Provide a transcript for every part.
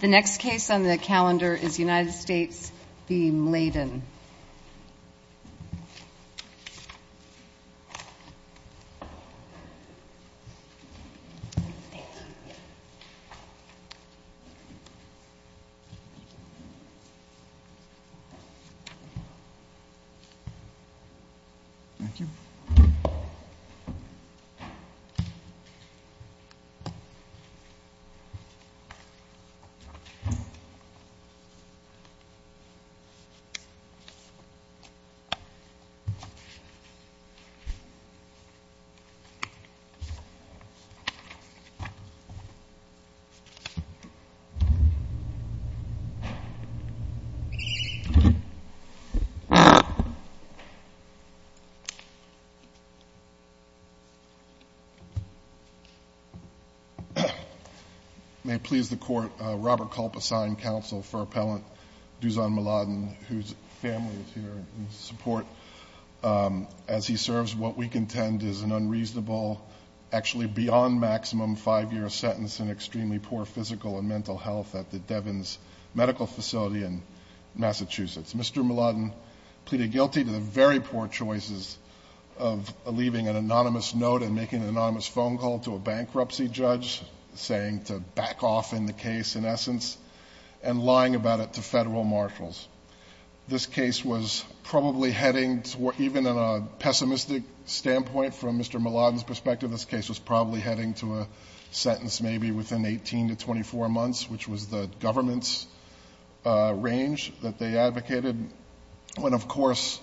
The next case on the calendar is United States v. Mladen. Mr. Mladen pleaded guilty to the very poor choices of leaving an anonymous note and making an anonymous phone call to a bankruptcy judge, saying to back off in the case, in essence, because it was an unreasonable, actually beyond maximum five-year sentence, and extremely poor physical and mental health at the Devens Medical Facility in Massachusetts. This case was probably heading toward, even in a pessimistic standpoint from Mr. Mladen's perspective, this case was probably heading to a sentence maybe within 18 to 24 months, which was the government's range that they advocated, when, of course,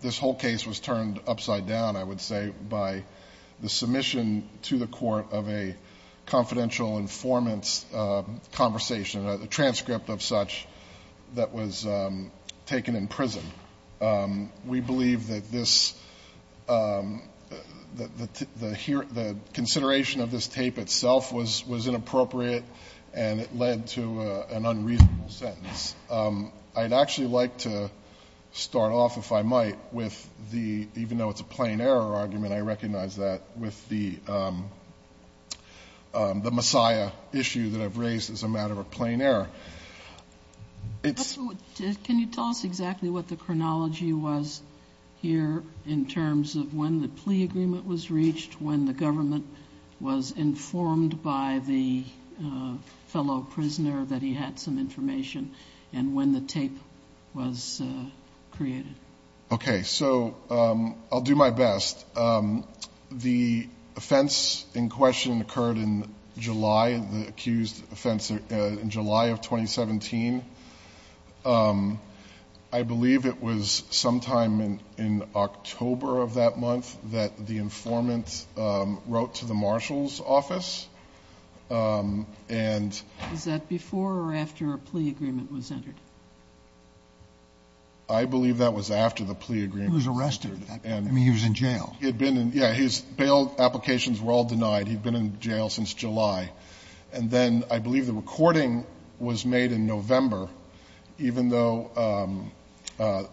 this whole case was turned upside down, I would say, by the submission to the court of a confidential informant's conversation. A transcript of such that was taken in prison. We believe that this — that the consideration of this tape itself was inappropriate, and it led to an unreasonable sentence. I'd actually like to start off, if I might, with the — even though it's a plain error argument, I recognize that — with the Messiah issue that I've raised as a matter of plain error. It's — Can you tell us exactly what the chronology was here, in terms of when the plea agreement was reached, when the government was informed by the fellow prisoner that he had some information, and when the tape was created? Okay. So I'll do my best. The offense in question occurred in July, the accused offense in July of 2017. I believe it was sometime in October of that month that the informant wrote to the marshal's office, and — Was that before or after a plea agreement was entered? I believe that was after the plea agreement was entered. He was arrested. I mean, he was in jail. He had been in — yeah, his bail applications were all denied. He'd been in jail since July. And then I believe the recording was made in November, even though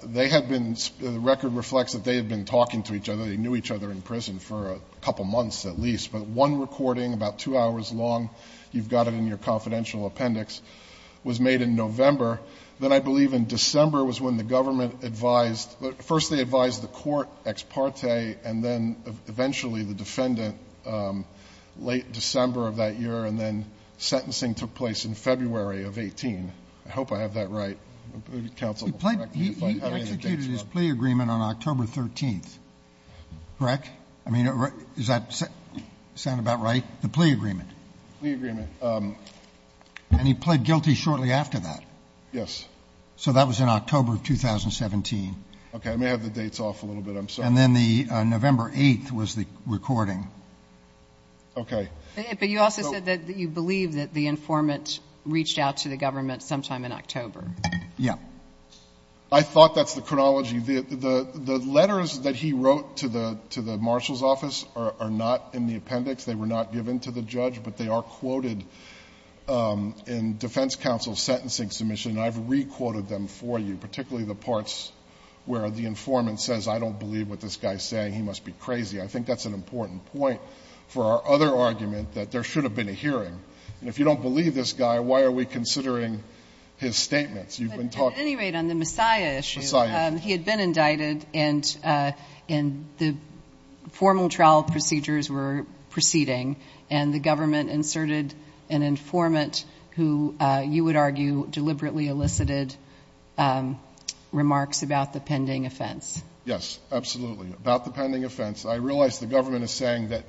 they had been — the record reflects that they had been talking to each other, they knew each other in prison for a couple months at least. But one recording, about two hours long, you've got it in your confidential appendix, was made in November. Then I believe in December was when the government advised — first they advised the court ex parte, and then eventually the defendant, late December of that year, and then sentencing took place in February of 18. I hope I have that right, counsel. He executed his plea agreement on October 13th, correct? I mean, does that sound about right, the plea agreement? The plea agreement. And he pled guilty shortly after that? Yes. So that was in October of 2017. Okay. I may have the dates off a little bit. I'm sorry. And then the November 8th was the recording. Okay. But you also said that you believe that the informant reached out to the government sometime in October. Yes. I thought that's the chronology. The letters that he wrote to the marshal's office are not in the appendix. They were not given to the judge, but they are quoted in defense counsel's sentencing submission. And I've re-quoted them for you, particularly the parts where the informant says, I don't believe what this guy's saying. He must be crazy. I think that's an important point for our other argument, that there should have been a hearing. And if you don't believe this guy, why are we considering his statements? You've been talking — He had been indicted, and the formal trial procedures were proceeding, and the government inserted an informant who, you would argue, deliberately elicited remarks about the pending offense. Yes, absolutely. About the pending offense, I realize the government is saying that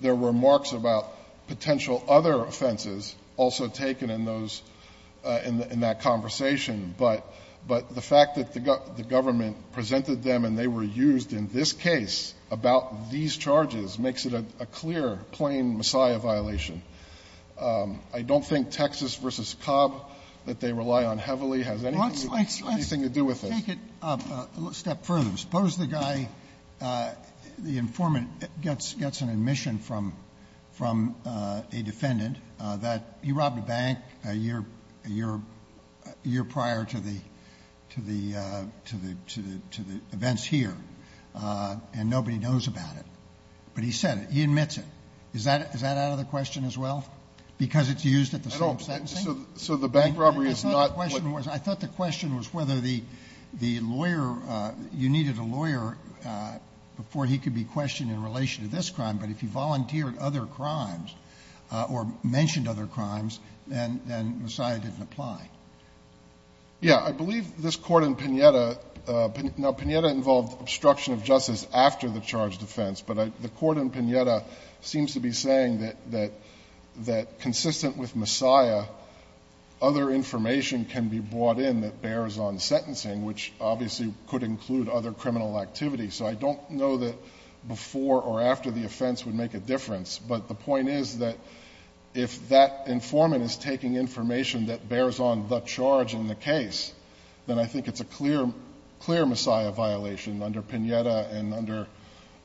there were remarks about potential other offenses also taken in that conversation, but the fact that the government presented them and they were used in this case about these charges makes it a clear, plain Messiah violation. I don't think Texas v. Cobb, that they rely on heavily, has anything to do with this. Let's take it a step further. Suppose the guy, the informant, gets an admission from a defendant that he robbed a bank a year prior to the events here, and nobody knows about it. But he said it. He admits it. Is that out of the question as well, because it's used at the same sentencing? So the bank robbery is not — The question was — I thought the question was whether the lawyer — you needed a lawyer before he could be questioned in relation to this crime, but if he volunteered other crimes or mentioned other crimes, then Messiah didn't apply. Yeah. I believe this Court in Pineda — now, Pineda involved obstruction of justice after the charged offense, but the Court in Pineda seems to be saying that consistent with Messiah, other information can be brought in that bears on sentencing, which obviously could include other criminal activity. So I don't know that before or after the offense would make a difference. But the point is that if that informant is taking information that bears on the charge in the case, then I think it's a clear, clear Messiah violation under Pineda and under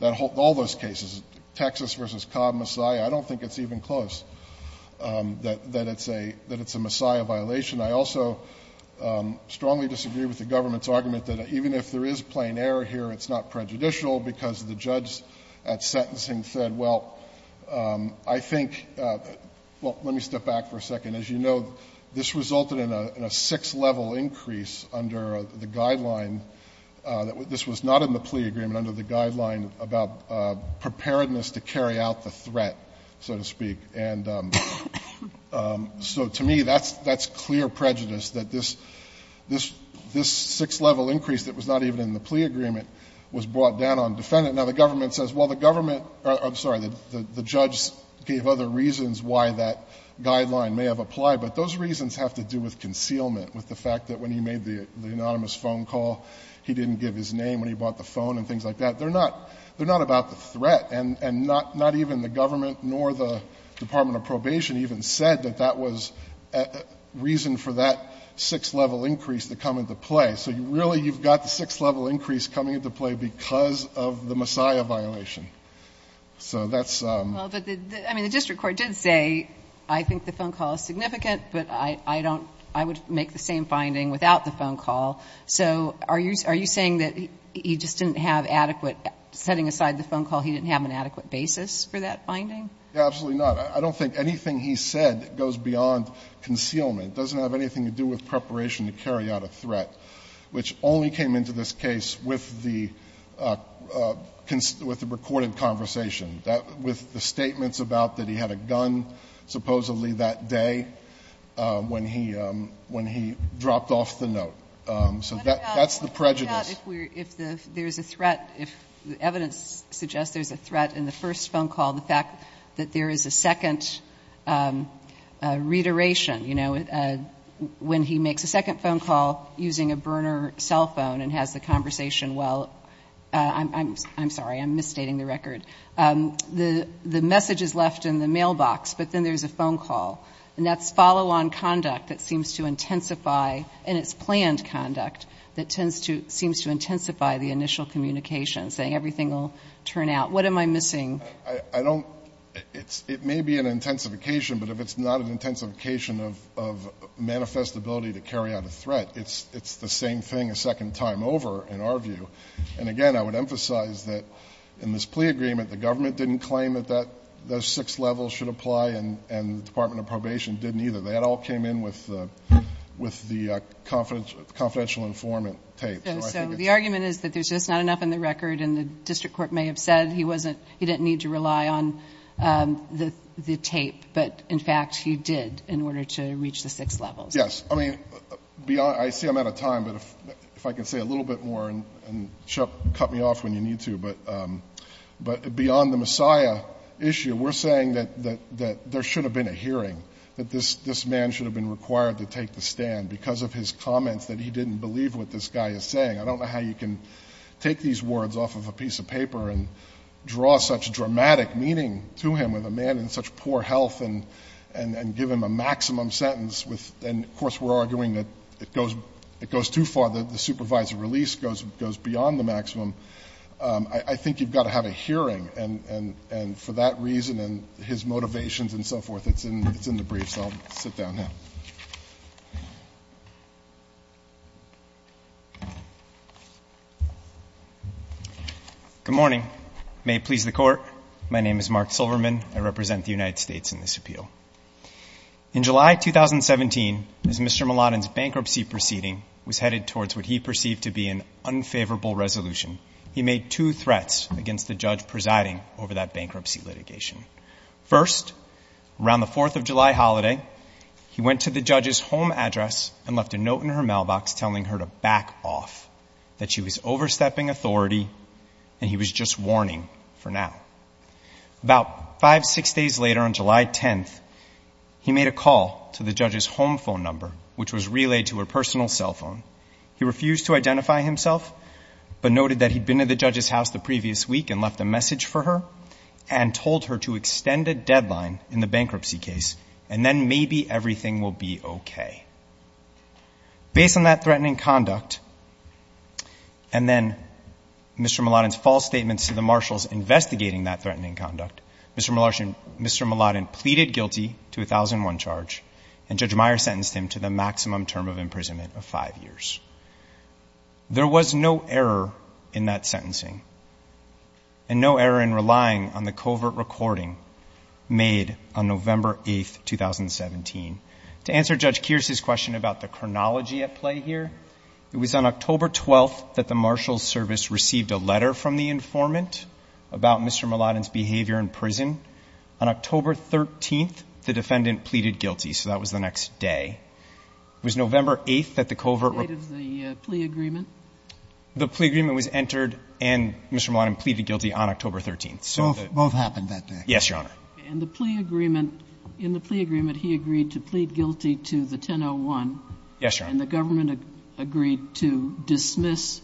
all those cases, Texas v. Cobb, Messiah. I don't think it's even close. That it's a — that it's a Messiah violation. I also strongly disagree with the government's argument that even if there is plain error here, it's not prejudicial because the judge at sentencing said, well, I think — well, let me step back for a second. As you know, this resulted in a — in a six-level increase under the guideline that — this was not in the plea agreement under the guideline about preparedness to carry out the threat, so to speak. And so to me, that's clear prejudice, that this — this six-level increase that was not even in the plea agreement was brought down on defendant. Now, the government says, well, the government — I'm sorry, the judge gave other reasons why that guideline may have applied, but those reasons have to do with concealment, with the fact that when he made the anonymous phone call, he didn't give his name when he bought the phone and things like that. They're not — they're not about the threat, and not even the government nor the Department of Probation even said that that was reason for that six-level increase to come into play. So really, you've got the six-level increase coming into play because of the Messiah violation. So that's — Well, but the — I mean, the district court did say, I think the phone call is significant, but I don't — I would make the same finding without the phone call. So are you — are you saying that he just didn't have adequate — setting aside the phone call, he didn't have an adequate basis for that finding? Yeah, absolutely not. I don't think anything he said goes beyond concealment. It doesn't have anything to do with preparation to carry out a threat, which only came into this case with the — with the recorded conversation, that — with the statements about that he had a gun supposedly that day when he — when he dropped off the note. So that's the prejudice. Let me point out, if we're — if there's a threat, if evidence suggests there's a threat in the first phone call, the fact that there is a second reiteration, you know, when he makes a second phone call using a burner cell phone and has the conversation while — I'm sorry, I'm misstating the record. The message is left in the mailbox, but then there's a phone call. And that's follow-on conduct that seems to intensify. And it's planned conduct that tends to — seems to intensify the initial communication, saying everything will turn out. What am I missing? I don't — it may be an intensification, but if it's not an intensification of manifest ability to carry out a threat, it's the same thing a second time over, in our view. And again, I would emphasize that in this plea agreement, the government didn't claim that those six levels should apply, and the Department of Probation didn't either. That all came in with the confidential informant tape. So I think it's — So the argument is that there's just not enough in the record. And the district court may have said he wasn't — he didn't need to rely on the tape. But, in fact, he did in order to reach the six levels. Yes. I mean, beyond — I see I'm out of time. But if I can say a little bit more, and Chuck, cut me off when you need to. But beyond the Messiah issue, we're saying that there should have been a hearing, that this man should have been required to take the stand because of his comments that he didn't believe what this guy is saying. I don't know how you can take these words off of a piece of paper and draw such dramatic meaning to him, with a man in such poor health, and give him a maximum sentence with — and, of course, we're arguing that it goes too far. The supervisor release goes beyond the maximum. I think you've got to have a hearing. And for that reason and his motivations and so forth, it's in the briefs. So I'll sit down now. Good morning. May it please the Court. My name is Mark Silverman. I represent the United States in this appeal. In July 2017, as Mr. Mulladin's bankruptcy proceeding was headed towards what he perceived to be an unfavorable resolution, he made two threats against the judge presiding over that bankruptcy litigation. First, around the Fourth of July holiday, he went to the judge's home address and left a note in her mailbox telling her to back off, that she was overstepping authority, and he was just warning for now. About five, six days later, on July 10th, he made a call to the judge's home phone number, which was relayed to her personal cell phone. He refused to identify himself but noted that he'd been to the judge's house the previous week and left a message for her and told her to extend a deadline in the bankruptcy case and then maybe everything will be okay. Based on that threatening conduct and then Mr. Mulladin's false statements to the marshals investigating that threatening conduct, Mr. Mulladin pleaded guilty to a 1001 charge and Judge Meyer sentenced him to the maximum term of imprisonment of five years. There was no error in that sentencing and no error in relying on the covert recording made on November 8th, 2017. To answer Judge Kearse's question about the chronology at play here, it was on October 12th that the Marshals Service received a letter from the informant about Mr. Mulladin's behavior in prison. On October 13th, the defendant pleaded guilty. So that was the next day. It was November 8th that the covert record. The date of the plea agreement? The plea agreement was entered and Mr. Mulladin pleaded guilty on October 13th. Both happened that day? Yes, Your Honor. And the plea agreement, in the plea agreement, he agreed to plead guilty to the 1001. Yes, Your Honor. And the government agreed to dismiss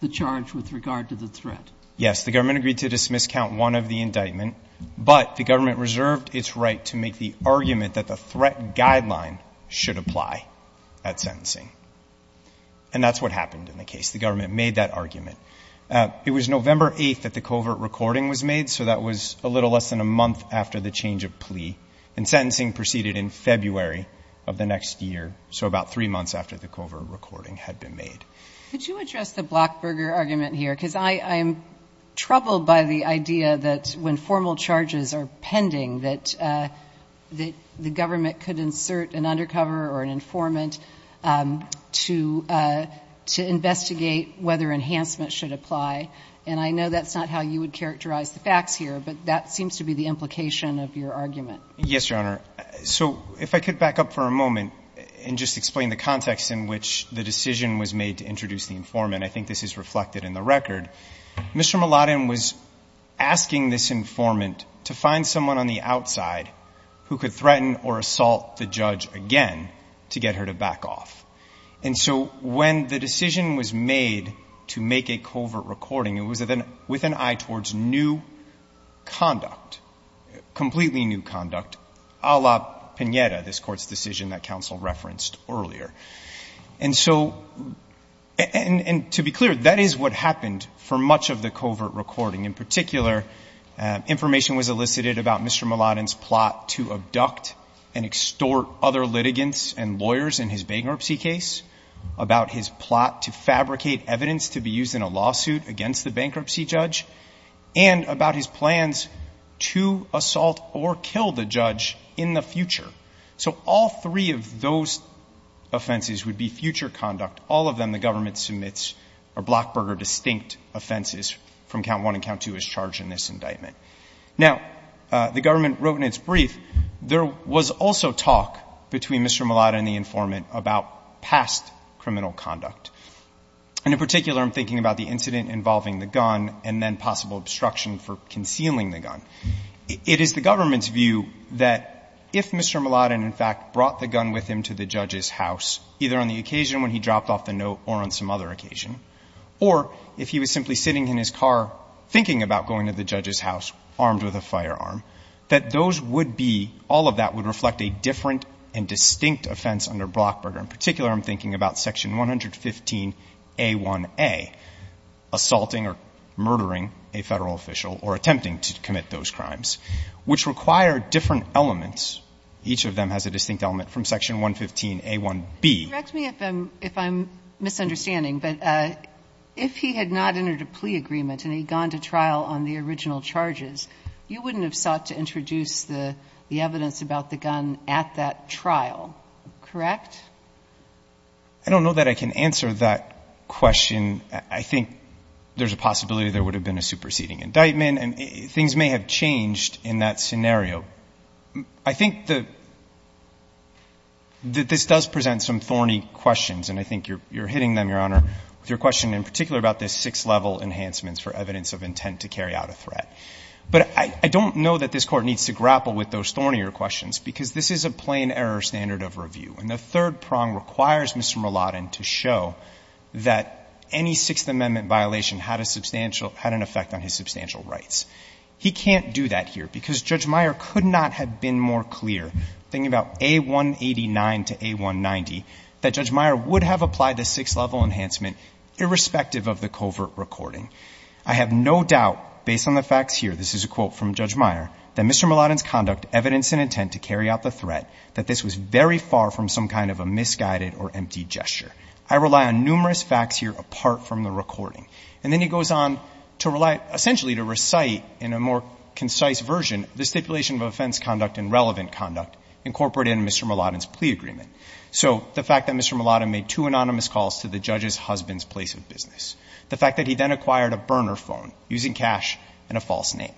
the charge with regard to the threat? Yes. The government agreed to dismiss count one of the indictment, but the government reserved its right to make the argument that the threat guideline should apply at sentencing. And that's what happened in the case. The government made that argument. It was November 8th that the covert recording was made, so that was a little less than a month after the change of plea, and sentencing proceeded in February of the next year, so about three months after the covert recording had been made. Could you address the Blockburger argument here? Because I'm troubled by the idea that when formal charges are pending, that the government could insert an undercover or an informant to investigate whether enhancement should apply, and I know that's not how you would characterize the facts here, but that seems to be the implication of your argument. Yes, Your Honor. So if I could back up for a moment and just explain the context in which the decision was made to introduce the informant. And I think this is reflected in the record. Mr. Mulladin was asking this informant to find someone on the outside who could threaten or assault the judge again to get her to back off. And so when the decision was made to make a covert recording, it was with an eye towards new conduct, completely new conduct, a la Pineda, this Court's decision that counsel referenced earlier. And so to be clear, that is what happened for much of the covert recording. In particular, information was elicited about Mr. Mulladin's plot to abduct and extort other litigants and lawyers in his bankruptcy case, about his plot to fabricate evidence to be used in a lawsuit against the bankruptcy judge, and about his plans to assault or kill the judge in the future. So all three of those offenses would be future conduct. All of them the government submits are Blockberger distinct offenses from Count 1 and Count 2 as charged in this indictment. Now, the government wrote in its brief there was also talk between Mr. Mulladin and the informant about past criminal conduct. And in particular, I'm thinking about the incident involving the gun and then possible obstruction for concealing the gun. It is the government's view that if Mr. Mulladin in fact brought the gun with him to the judge's house, either on the occasion when he dropped off the note or on some other occasion, or if he was simply sitting in his car thinking about going to the judge's house armed with a firearm, that those would be, all of that would reflect a different and distinct offense under Blockberger. In particular, I'm thinking about Section 115a1a, assaulting or murdering a Federal official or attempting to commit those crimes, which require different elements. Each of them has a distinct element from Section 115a1b. Kagan. Correct me if I'm misunderstanding, but if he had not entered a plea agreement and he'd gone to trial on the original charges, you wouldn't have sought to introduce the evidence about the gun at that trial, correct? I don't know that I can answer that question. I think there's a possibility there would have been a superseding indictment and things may have changed in that scenario. I think that this does present some thorny questions, and I think you're hitting them, Your Honor, with your question in particular about the six-level enhancements for evidence of intent to carry out a threat. But I don't know that this Court needs to grapple with those thornier questions because this is a plain error standard of review. And the third prong requires Mr. Mulotin to show that any Sixth Amendment violation had a substantial – had an effect on his substantial rights. He can't do that here because Judge Meyer could not have been more clear, thinking about A189 to A190, that Judge Meyer would have applied the six-level enhancement irrespective of the covert recording. I have no doubt, based on the facts here – this is a quote from Judge Meyer – that Mr. Mulotin's conduct, evidence, and intent to carry out the threat, that this was very far from some kind of a misguided or empty gesture. I rely on numerous facts here apart from the recording. And then he goes on to rely – essentially to recite in a more concise version the stipulation of offense conduct and relevant conduct incorporated in Mr. Mulotin's plea agreement. So the fact that Mr. Mulotin made two anonymous calls to the judge's husband's place of business, the fact that he then acquired a burner phone using cash and a false name,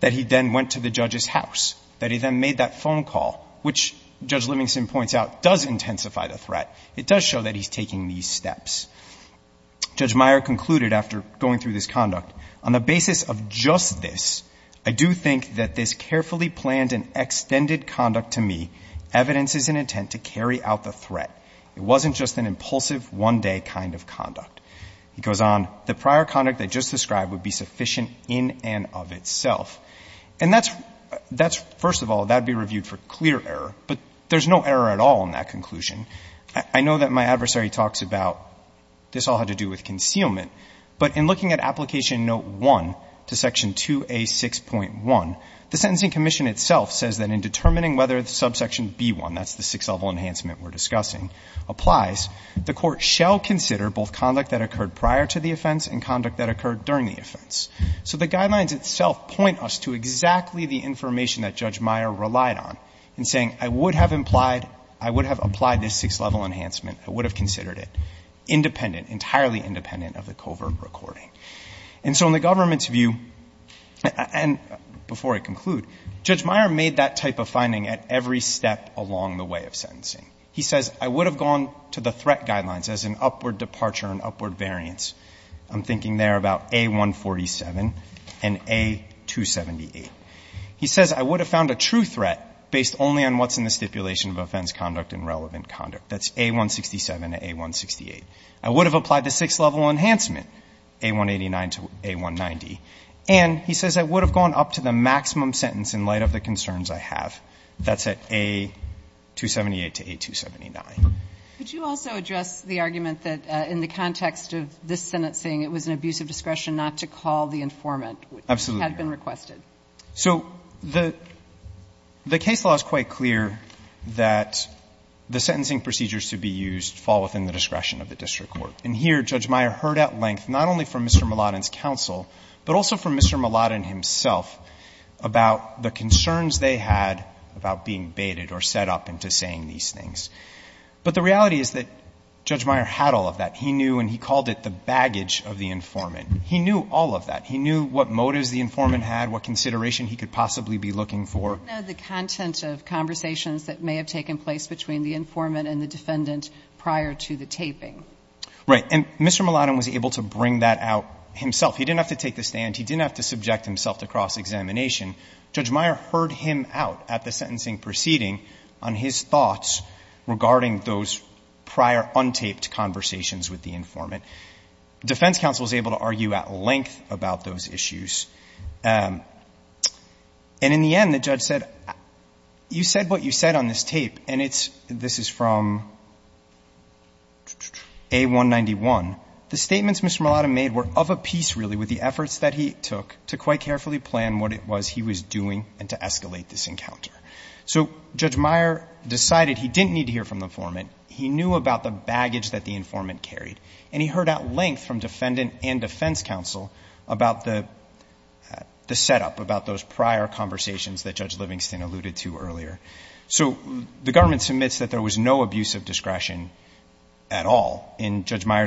that he then went to the judge's house, that he then made that phone call, which, Judge Livingston points out, does intensify the threat. It does show that he's taking these steps. Judge Meyer concluded after going through this conduct, On the basis of just this, I do think that this carefully planned and extended conduct to me evidences an intent to carry out the threat. It wasn't just an impulsive one-day kind of conduct. He goes on, The prior conduct I just described would be sufficient in and of itself. And that's – that's – first of all, that would be reviewed for clear error. But there's no error at all in that conclusion. I know that my adversary talks about this all had to do with concealment. But in looking at Application Note 1 to Section 2A6.1, the Sentencing Commission itself says that in determining whether the subsection B1, that's the sixth-level enhancement we're discussing, applies, the Court shall consider both conduct that occurred prior to the offense and conduct that occurred during the offense. So the guidelines itself point us to exactly the information that Judge Meyer relied on in saying, I would have implied – I would have applied this sixth-level enhancement. I would have considered it independent, entirely independent of the covert recording. And so in the government's view, and before I conclude, Judge Meyer made that type of finding at every step along the way of sentencing. He says, I would have gone to the threat guidelines as an upward departure, an upward variance. I'm thinking there about A147 and A278. He says, I would have found a true threat based only on what's in the stipulation of offense, conduct, and relevant conduct. That's A167 and A168. I would have applied the sixth-level enhancement, A189 to A190. And he says, I would have gone up to the maximum sentence in light of the concerns That's at A278 to A279. Could you also address the argument that in the context of this sentence saying it was an abuse of discretion not to call the informant, which had been requested? Absolutely. So the case law is quite clear that the sentencing procedures to be used fall within the discretion of the district court. And here, Judge Meyer heard at length, not only from Mr. Mulotin's counsel, but also from Mr. Mulotin himself, about the concerns they had about being baited or set up into saying these things. But the reality is that Judge Meyer had all of that. He knew and he called it the baggage of the informant. He knew all of that. He knew what motives the informant had, what consideration he could possibly be looking for. But he didn't know the content of conversations that may have taken place between the informant and the defendant prior to the taping. Right. And Mr. Mulotin was able to bring that out himself. He didn't have to take the stand. He didn't have to subject himself to cross-examination. Judge Meyer heard him out at the sentencing proceeding on his thoughts regarding those prior untaped conversations with the informant. The defense counsel was able to argue at length about those issues. And in the end, the judge said, you said what you said on this tape, and it's — this is from A191. The statements Mr. Mulotin made were of a piece, really, with the efforts that he took to quite carefully plan what it was he was doing and to escalate this encounter. So Judge Meyer decided he didn't need to hear from the informant. He knew about the baggage that the informant carried. And he heard at length from defendant and defense counsel about the setup, about those prior conversations that Judge Livingston alluded to earlier. So the government submits that there was no abuse of discretion at all in Judge Livingston's case. And Judge Meyer said, I don't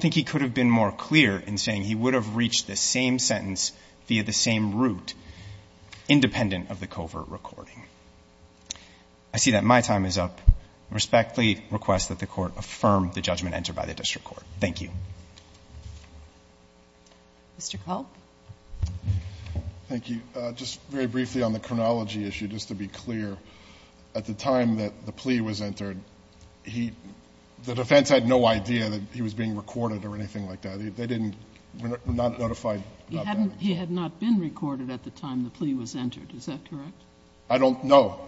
think he could have been more clear in saying he would have reached this same sentence via the same route independent of the covert recording. I see that my time is up. I respectfully request that the Court affirm the judgment entered by the district court. Thank you. Mr. Culp. Thank you. Just very briefly on the chronology issue, just to be clear. At the time that the plea was entered, he — the defense had no idea that he was being recorded or anything like that. They didn't — were not notified about that. He had not been recorded at the time the plea was entered. Is that correct? I don't know.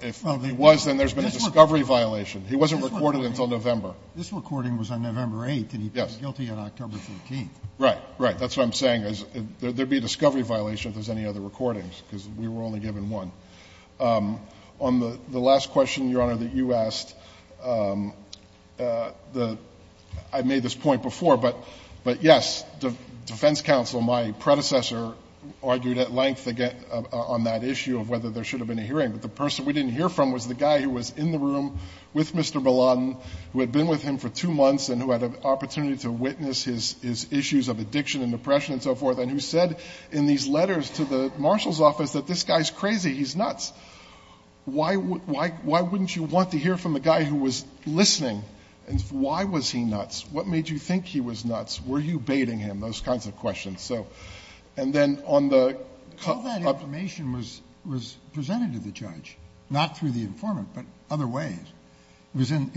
If he was, then there's been a discovery violation. He wasn't recorded until November. This recording was on November 8th. And he'd been guilty on October 13th. Right. Right. That's what I'm saying. There'd be a discovery violation if there's any other recordings, because we were only given one. On the last question, Your Honor, that you asked, the — I made this point before, but yes, defense counsel, my predecessor, argued at length on that issue of whether there should have been a hearing. But the person we didn't hear from was the guy who was in the room with Mr. Mulotin, who had been with him for two months and who had an opportunity to witness his issues of addiction and depression and so forth, and who said in these letters to the marshal's office that this guy's crazy, he's nuts. Why wouldn't you want to hear from the guy who was listening? And why was he nuts? What made you think he was nuts? Were you baiting him? Those kinds of questions. So — and then on the — All that information was presented to the judge, not through the informant, but other ways. It was in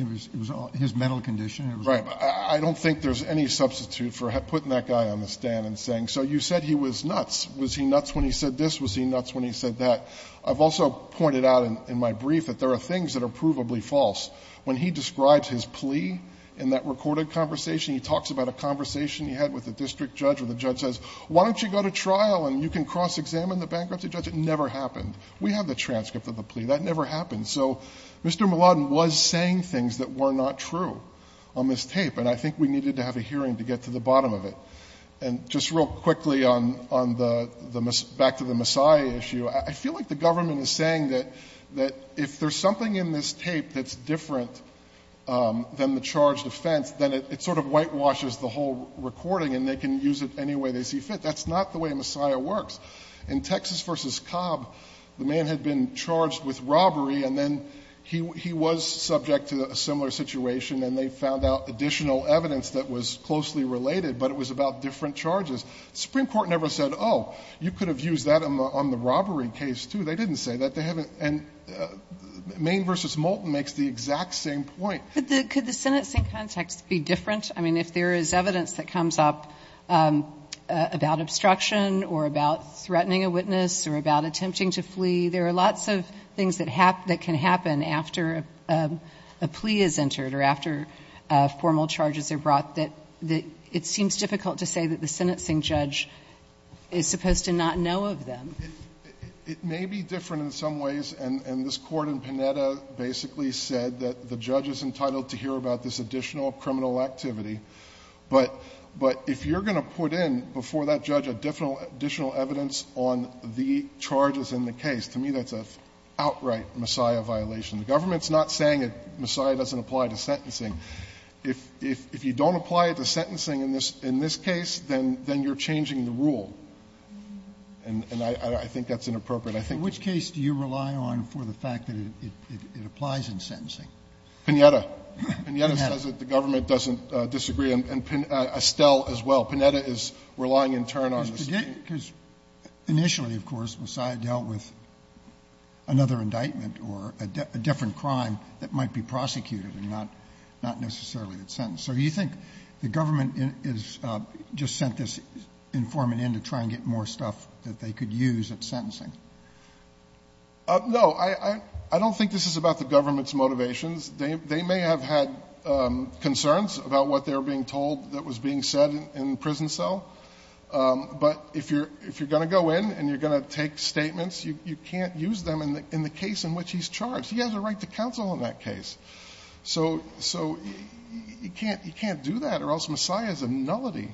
his mental condition. It was — Right. I don't think there's any substitute for putting that guy on the stand and saying, so you said he was nuts. Was he nuts when he said this? Was he nuts when he said that? I've also pointed out in my brief that there are things that are provably false. When he describes his plea in that recorded conversation, he talks about a conversation he had with the district judge, where the judge says, why don't you go to trial and you can cross-examine the bankruptcy judge? It never happened. We have the transcript of the plea. That never happened. So Mr. Mulodin was saying things that were not true on this tape, and I think we needed to have a hearing to get to the bottom of it. And just real quickly on the — back to the Messiah issue, I feel like the government is saying that if there's something in this tape that's different than the charged offense, then it sort of whitewashes the whole recording and they can use it any way they see fit. That's not the way Messiah works. In Texas v. Cobb, the man had been charged with robbery, and then he was subject to a similar situation, and they found out additional evidence that was closely related, but it was about different charges. The Supreme Court never said, oh, you could have used that on the robbery case, too. They didn't say that. They haven't — and Maine v. Moulton makes the exact same point. Could the sentencing context be different? I mean, if there is evidence that comes up about obstruction or about threatening a witness or about attempting to flee, there are lots of things that can happen after a plea is entered or after formal charges are brought that it seems difficult to say that the sentencing judge is supposed to not know of them. It may be different in some ways, and this Court in Panetta basically said that the judge is entitled to hear about this additional criminal activity. But if you're going to put in before that judge additional evidence on the charges in the case, to me that's an outright Messiah violation. The government's not saying that Messiah doesn't apply to sentencing. If you don't apply it to sentencing in this case, then you're changing the rule. And I think that's inappropriate. I think that's inappropriate. Sotomayor in which case do you rely on for the fact that it applies in sentencing? Panetta. Panetta says that the government doesn't disagree. And Estelle as well. Panetta is relying in turn on this. Because initially, of course, Messiah dealt with another indictment or a different crime that might be prosecuted and not necessarily sentenced. So you think the government is just sent this informant in to try and get more stuff that they could use at sentencing? No. I don't think this is about the government's motivations. They may have had concerns about what they were being told that was being said in prison cell. But if you're going to go in and you're going to take statements, you can't use them in the case in which he's charged. He has a right to counsel in that case. So you can't do that or else Messiah is a nullity.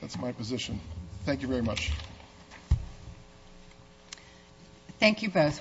That's my position. Thank you very much. Thank you both.